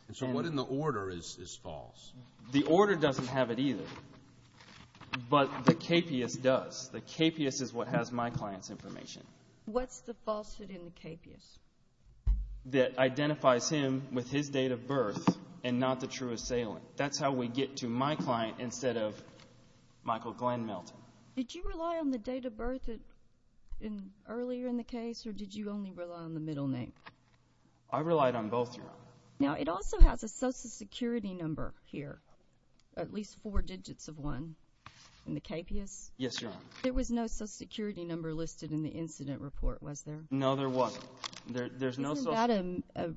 And so what in the order is false? The order doesn't have it either, but the KPS does. The KPS is what has my client's information. What's the falsehood in the KPS? That identifies him with his date of birth and not the true assailant. That's how we get to my client instead of Michael Glenn Melton. Did you rely on the date of birth earlier in the case, or did you only rely on the middle name? I relied on both. Now, it also has a Social Security number here, at least four digits of one in the KPS. Yes, Your Honor. There was no Social Security number listed in the incident report, was there? No, there wasn't. Isn't that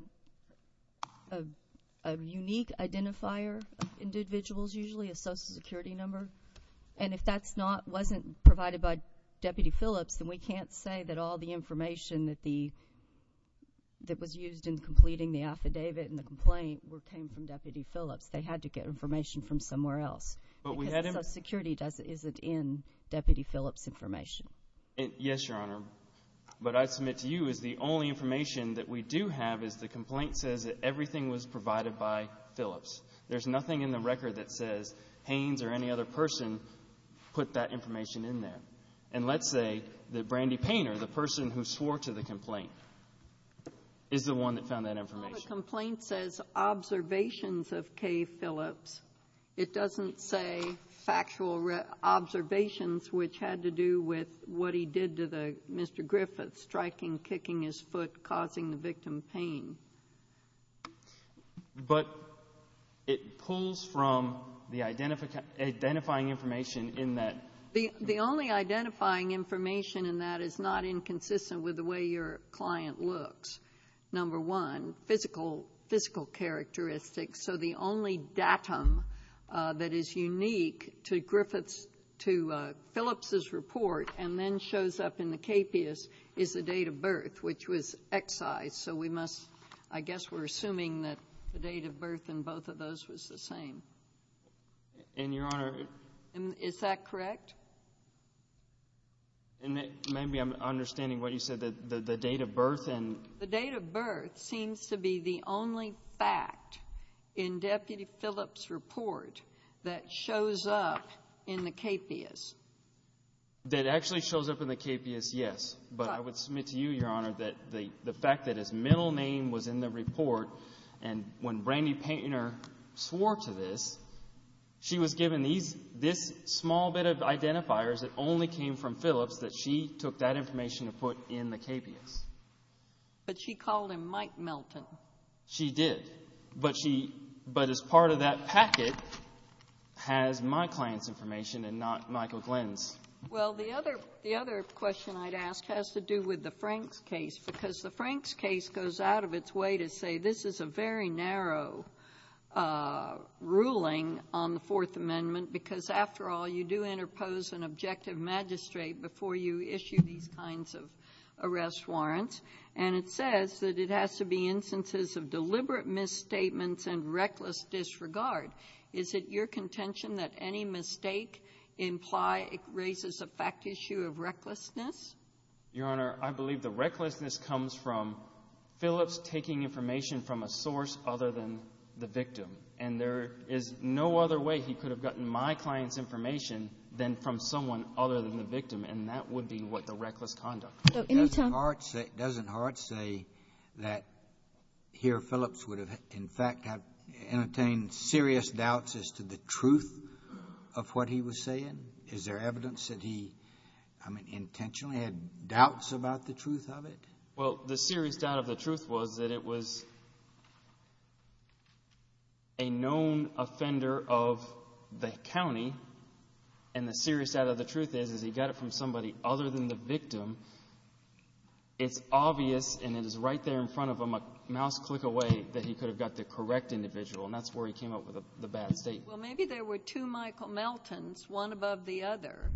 a unique identifier of individuals usually, a Social Security number? And if that wasn't provided by Deputy Phillips, then we can't say that all the information that was used in completing the affidavit and the complaint came from Deputy Phillips. They had to get information from somewhere else because Social Security isn't in Deputy Phillips' information. Yes, Your Honor. But I submit to you is the only information that we do have is the complaint says that everything was provided by Phillips. There's nothing in the record that says Haynes or any other person put that information in there. And let's say that Brandy Painter, the person who swore to the complaint, is the one that found that information. Well, the complaint says observations of K. Phillips. It doesn't say factual observations which had to do with what he did to Mr. Griffith, striking, kicking his foot, causing the victim pain. But it pulls from the identifying information in that. The only identifying information in that is not inconsistent with the way your client looks, number one, physical characteristics. So the only datum that is unique to Phillips' report and then shows up in the KPIS is the date of birth, which was excised. So we must – I guess we're assuming that the date of birth in both of those was the same. And, Your Honor – Is that correct? Maybe I'm understanding what you said, the date of birth and – The date of birth seems to be the only fact in Deputy Phillips' report that shows up in the KPIS. That actually shows up in the KPIS, yes. But I would submit to you, Your Honor, that the fact that his middle name was in the report and when Brandy Painter swore to this, she was given these – this small bit of identifiers that only came from Phillips that she took that information to put in the KPIS. But she called him Mike Melton. She did. But she – but as part of that packet has my client's information and not Michael Glenn's. Well, the other – the other question I'd ask has to do with the Franks case because the Franks case goes out of its way to say this is a very narrow ruling on the Fourth Amendment because, after all, you do interpose an objective magistrate before you issue these kinds of arrest warrants. And it says that it has to be instances of deliberate misstatements and reckless disregard. Is it your contention that any mistake implied raises a fact issue of recklessness? Your Honor, I believe the recklessness comes from Phillips taking information from a source other than the victim. And there is no other way he could have gotten my client's information than from someone other than the victim. And that would be what the reckless conduct is. Doesn't Hart say that here Phillips would have, in fact, entertained serious doubts as to the truth of what he was saying? Is there evidence that he, I mean, intentionally had doubts about the truth of it? Well, the serious doubt of the truth was that it was a known offender of the county. And the serious doubt of the truth is, is he got it from somebody other than the victim. It's obvious, and it is right there in front of him, a mouse click away, that he could have got the correct individual. And that's where he came up with the bad statement. Well, maybe there were two Michael Meltons, one above the other.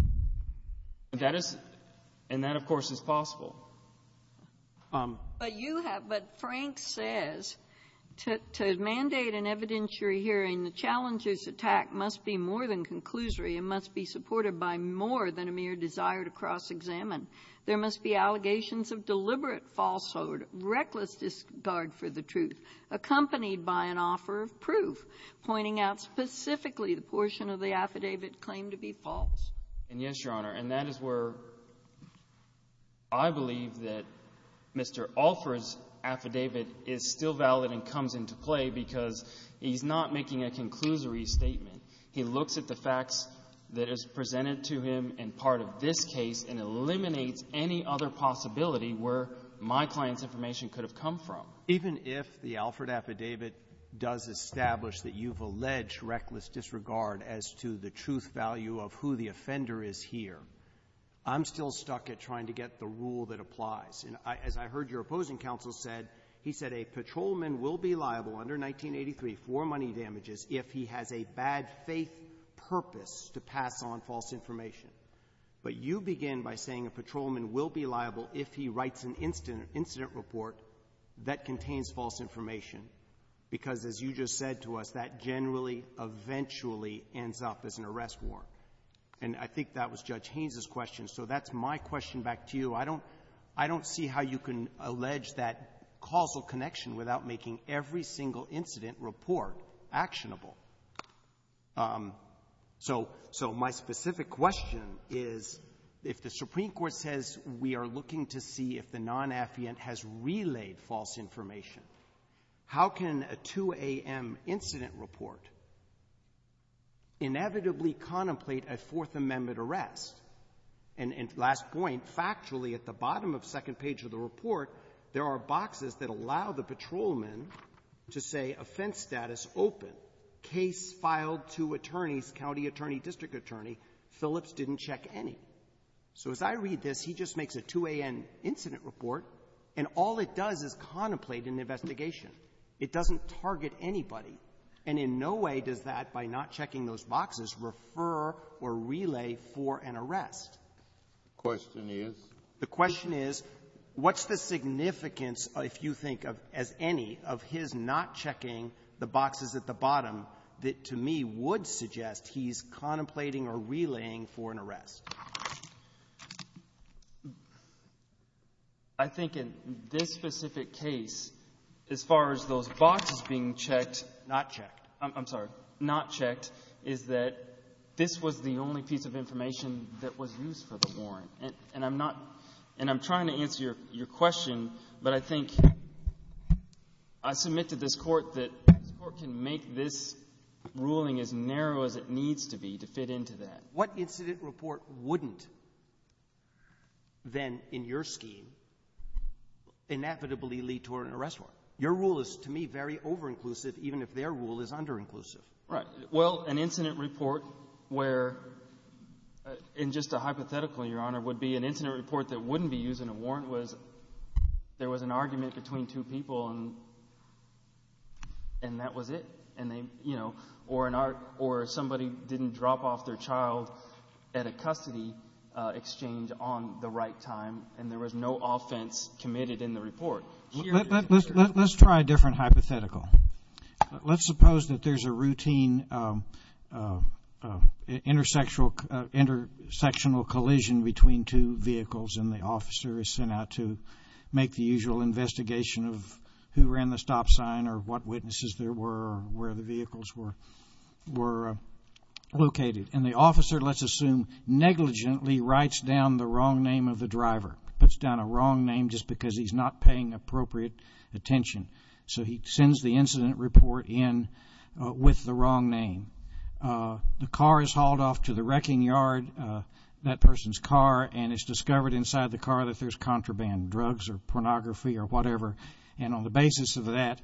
That is – and that, of course, is possible. But you have – but Frank says to mandate an evidentiary hearing, the challenger's attack must be more than conclusory. It must be supported by more than a mere desire to cross-examine. There must be allegations of deliberate falsehood, reckless disregard for the truth, accompanied by an offer of proof pointing out specifically the portion of the affidavit claimed to be false. And yes, Your Honor. And that is where I believe that Mr. Alford's affidavit is still valid and comes into play because he's not making a conclusory statement. He looks at the facts that is presented to him in part of this case and eliminates any other possibility where my client's information could have come from. Even if the Alford affidavit does establish that you've alleged reckless disregard as to the truth value of who the offender is here, I'm still stuck at trying to get the rule that applies. And as I heard your opposing counsel said, he said a patrolman will be liable under 1983 for money damages if he has a bad faith purpose to pass on false information. But you begin by saying a patrolman will be liable if he writes an incident report that contains false information because, as you just said to us, that generally eventually ends up as an arrest warrant. And I think that was Judge Haynes' question, so that's my question back to you. I don't see how you can allege that causal connection without making every single incident report actionable. So my specific question is, if the Supreme Court says we are looking to see if the non-affiant has relayed false information, how can a 2 a.m. incident report inevitably contemplate a Fourth Amendment arrest? And last point, factually at the bottom of the second page of the report, there are boxes that allow the patrolman to say offense status open, case filed to attorneys, county attorney, district attorney, Phillips didn't check any. So as I read this, he just makes a 2 a.m. incident report, and all it does is contemplate an investigation. It doesn't target anybody. And in no way does that, by not checking those boxes, refer or relay for an arrest. The question is? The question is, what's the significance, if you think of as any, of his not checking the boxes at the bottom, that to me would suggest he's contemplating or relaying for an arrest? I think in this specific case, as far as those boxes being checked, not checked, I'm sorry, not checked, is that this was the only piece of information that was used for the warrant. And I'm trying to answer your question, but I think I submit to this Court that this Court can make this ruling as narrow as it needs to be to fit into that. What incident report wouldn't then, in your scheme, inevitably lead to an arrest warrant? Your rule is, to me, very over-inclusive, even if their rule is under-inclusive. Right. Well, an incident report where, in just a hypothetical, Your Honor, would be an incident report that wouldn't be used in a warrant was there was an argument between two people and that was it. And they, you know, or somebody didn't drop off their child at a custody exchange on the right time, and there was no offense committed in the report. Let's try a different hypothetical. Let's suppose that there's a routine intersectional collision between two vehicles and the officer is sent out to make the usual investigation of who ran the stop sign or what witnesses there were or where the vehicles were located. And the officer, let's assume, negligently writes down the wrong name of the driver, puts down a wrong name just because he's not paying appropriate attention. So he sends the incident report in with the wrong name. The car is hauled off to the wrecking yard, that person's car, and it's discovered inside the car that there's contraband, drugs or pornography or whatever. And on the basis of that,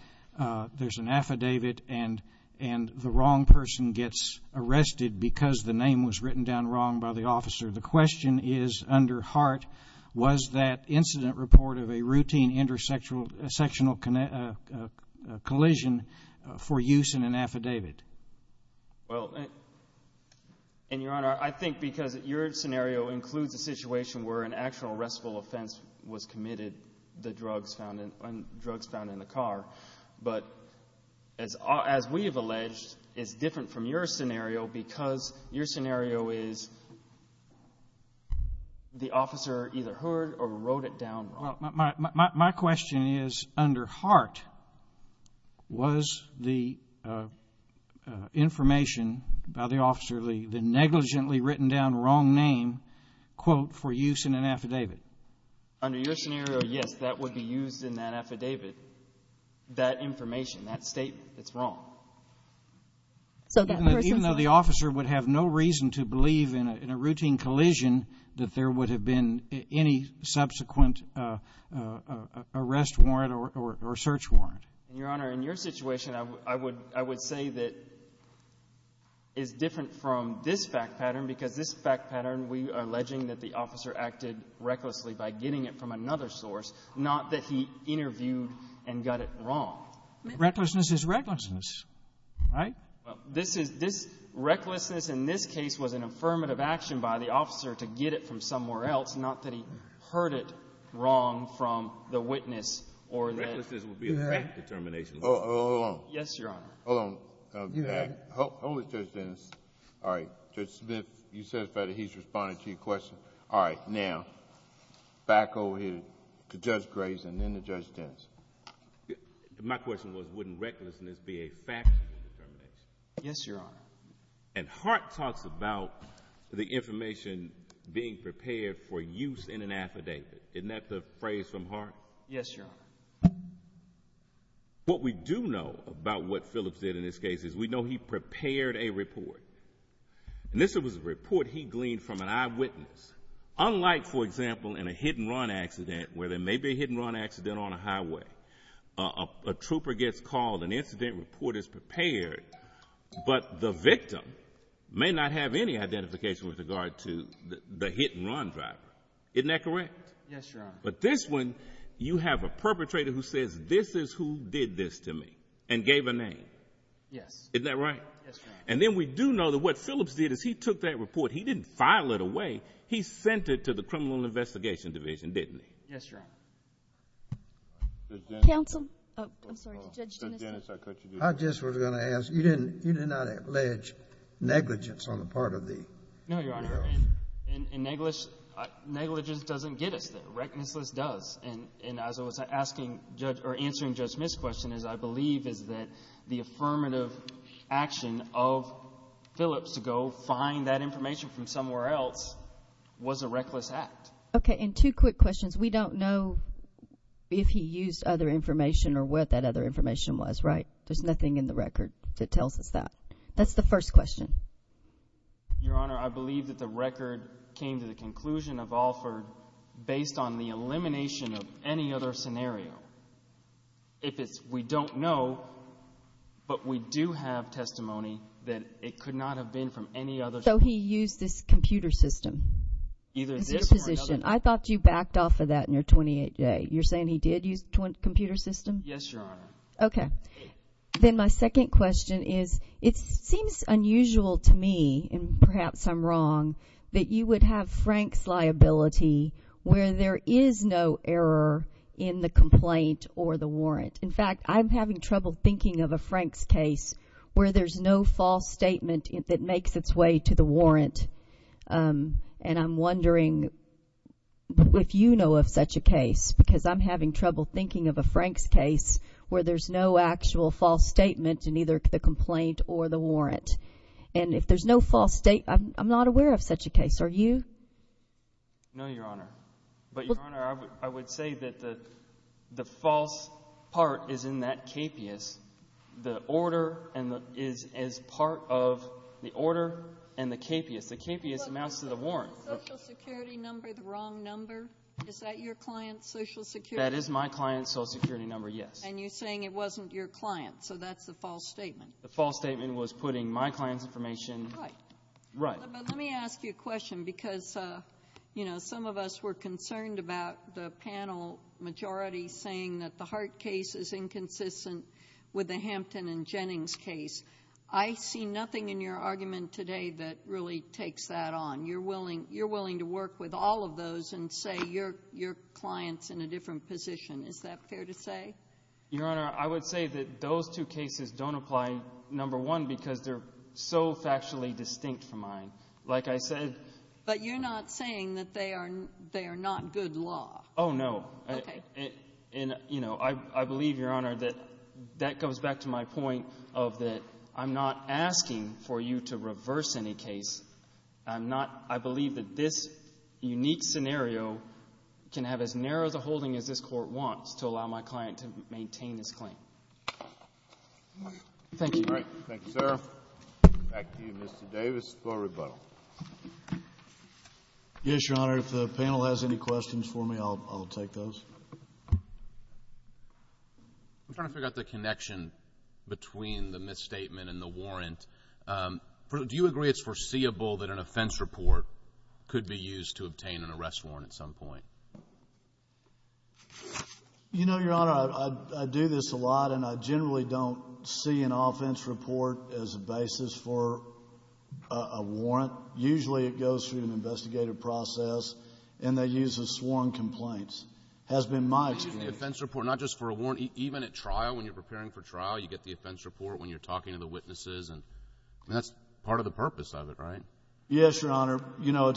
there's an affidavit and the wrong person gets arrested because the name was written down wrong by the officer. The question is under heart, was that incident report of a routine intersectional collision for use in an affidavit? Well, and, Your Honor, I think because your scenario includes a situation where an actual arrestable offense was committed, the drugs found in the car. But as we have alleged, it's different from your scenario because your scenario is the officer either heard or wrote it down wrong. My question is, under heart, was the information by the officer, the negligently written down wrong name, quote, for use in an affidavit? Under your scenario, yes, that would be used in that affidavit. That information, that statement, it's wrong. Even though the officer would have no reason to believe in a routine collision that there would have been any subsequent arrest warrant or search warrant? Your Honor, in your situation, I would say that it's different from this fact pattern because this fact pattern, we are alleging that the officer acted recklessly by getting it from another source, not that he interviewed and got it wrong. Recklessness is recklessness, right? Well, this recklessness in this case was an affirmative action by the officer to get it from somewhere else, not that he heard it wrong from the witness or the — Recklessness would be a frank determination. Hold on. Yes, Your Honor. Hold on. Hold it, Judge Dennis. All right. Judge Smith, you said that he's responding to your question. All right. Now, back over here to Judge Grace and then to Judge Dennis. My question was, wouldn't recklessness be a factual determination? Yes, Your Honor. And Hart talks about the information being prepared for use in an affidavit. Isn't that the phrase from Hart? Yes, Your Honor. What we do know about what Phillips did in this case is we know he prepared a report. And this was a report he gleaned from an eyewitness. Unlike, for example, in a hit-and-run accident, where there may be a hit-and-run accident on a highway, a trooper gets called, an incident report is prepared, but the victim may not have any identification with regard to the hit-and-run driver. Isn't that correct? Yes, Your Honor. But this one, you have a perpetrator who says, this is who did this to me and gave a name. Yes. Isn't that right? Yes, Your Honor. And then we do know that what Phillips did is he took that report. He didn't file it away. He sent it to the Criminal Investigation Division, didn't he? Yes, Your Honor. Counsel. I'm sorry, Judge Dennis. Judge Dennis, I cut you. I just was going to ask, you did not allege negligence on the part of the girl? No, Your Honor. And negligence doesn't get us there. Recklessness does. And as I was answering Judge Smith's question, I believe that the affirmative action of Phillips to go find that information from somewhere else was a reckless act. Okay. And two quick questions. We don't know if he used other information or what that other information was, right? There's nothing in the record that tells us that. That's the first question. Your Honor, I believe that the record came to the conclusion of Alford based on the elimination of any other scenario. If it's we don't know, but we do have testimony that it could not have been from any other. So he used this computer system? Either this or another. I thought you backed off of that in your 28-day. You're saying he did use a computer system? Yes, Your Honor. Okay. Then my second question is, it seems unusual to me, and perhaps I'm wrong, that you would have Frank's liability where there is no error in the complaint or the warrant. In fact, I'm having trouble thinking of a Frank's case where there's no false statement that makes its way to the warrant. And I'm wondering if you know of such a case, because I'm having trouble thinking of a Frank's case where there's no actual false statement in either the complaint or the warrant. And if there's no false statement, I'm not aware of such a case. Are you? No, Your Honor. But, Your Honor, I would say that the false part is in that KPIS. The order is part of the order and the KPIS. The KPIS amounts to the warrant. Is the Social Security number the wrong number? Is that your client's Social Security number? That is my client's Social Security number, yes. And you're saying it wasn't your client, so that's the false statement. The false statement was putting my client's information. Right. Right. But let me ask you a question, because, you know, some of us were concerned about the panel majority saying that the Hart case is inconsistent with the Hampton and Jennings case. I see nothing in your argument today that really takes that on. You're willing to work with all of those and say your client's in a different position. Is that fair to say? Your Honor, I would say that those two cases don't apply, number one, because they're so factually distinct from mine. Like I said— But you're not saying that they are not good law. Oh, no. Okay. And, you know, I believe, Your Honor, that that goes back to my point of that I'm not asking for you to reverse any case. I'm not—I believe that this unique scenario can have as narrow a holding as this Court wants to allow my client to maintain his claim. Thank you. All right. Thank you, sir. Back to you, Mr. Davis, for rebuttal. Yes, Your Honor. If the panel has any questions for me, I'll take those. I'm trying to figure out the connection between the misstatement and the warrant. Do you agree it's foreseeable that an offense report could be used to obtain an arrest warrant at some point? You know, Your Honor, I do this a lot, and I generally don't see an offense report as a basis for a warrant. Usually, it goes through an investigative process, and they use the sworn complaints. It has been my experience— Even the offense report, not just for a warrant, even at trial, when you're preparing for trial, you get the offense report when you're talking to the witnesses, and that's part of the purpose of it, right? Yes, Your Honor. You know,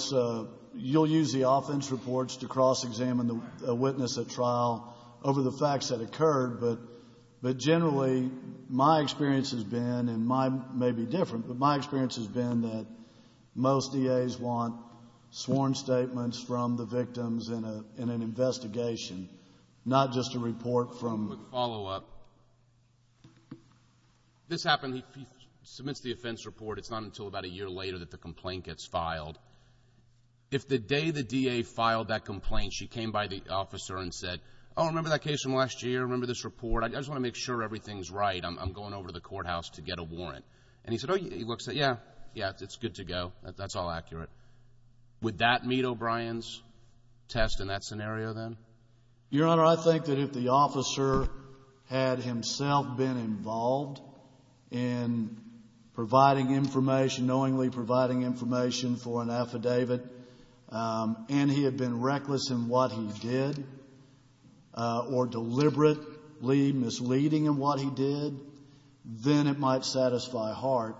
you'll use the offense reports to cross-examine a witness at trial over the facts that occurred, but generally, my experience has been, and mine may be different, but my experience has been that most DAs want sworn statements from the victims in an investigation, not just a report from... Just a quick follow-up. This happened. He submits the offense report. It's not until about a year later that the complaint gets filed. If the day the DA filed that complaint, she came by the officer and said, Oh, I remember that case from last year. I remember this report. I just want to make sure everything's right. I'm going over to the courthouse to get a warrant. And he said, Oh, yeah, it's good to go. That's all accurate. Would that meet O'Brien's test in that scenario then? Your Honor, I think that if the officer had himself been involved in providing information, knowingly providing information for an affidavit, and he had been reckless in what he did or deliberately misleading in what he did, then it might satisfy Hart.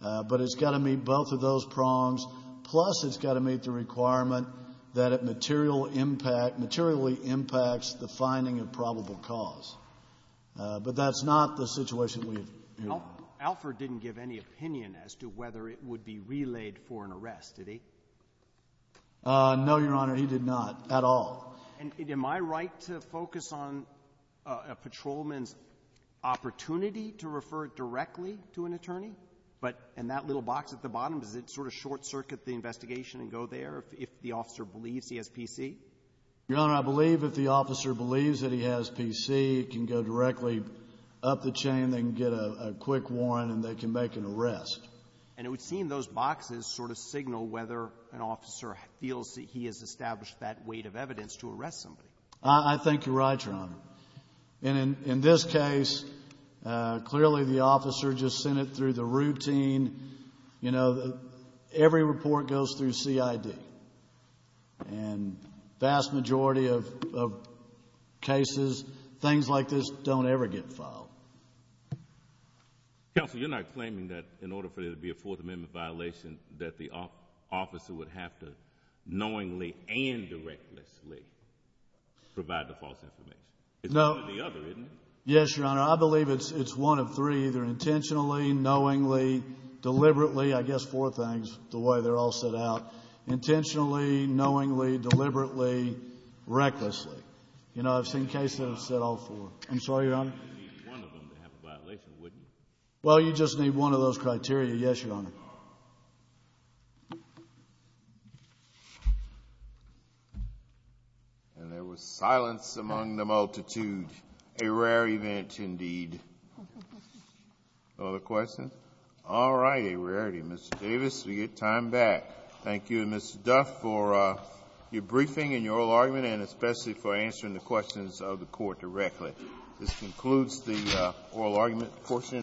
But it's got to meet both of those prongs. Plus it's got to meet the requirement that it materially impacts the finding of probable cause. But that's not the situation we have here. Alford didn't give any opinion as to whether it would be relayed for an arrest, did he? No, Your Honor, he did not at all. Am I right to focus on a patrolman's opportunity to refer directly to an attorney? But in that little box at the bottom, does it sort of short-circuit the investigation and go there if the officer believes he has PC? Your Honor, I believe if the officer believes that he has PC, it can go directly up the chain. They can get a quick warrant and they can make an arrest. And it would seem those boxes sort of signal whether an officer feels that he has established that weight of evidence to arrest somebody. I think you're right, Your Honor. And in this case, clearly the officer just sent it through the routine. You know, every report goes through CID. And the vast majority of cases, things like this, don't ever get filed. Counsel, you're not claiming that in order for there to be a Fourth Amendment violation that the officer would have to knowingly and recklessly provide the false information. It's one or the other, isn't it? Yes, Your Honor. I believe it's one of three, either intentionally, knowingly, deliberately. I guess four things, the way they're all set out. Intentionally, knowingly, deliberately, recklessly. You know, I've seen cases that have said all four. I'm sorry, Your Honor? You'd need one of them to have a violation, wouldn't you? Well, you'd just need one of those criteria. Yes, Your Honor. And there was silence among the multitude. A rare event, indeed. No other questions? All right, a rarity. Mr. Davis, we get time back. Thank you, Mr. Duff, for your briefing and your oral argument, and especially for answering the questions of the Court directly. This concludes the oral argument portion.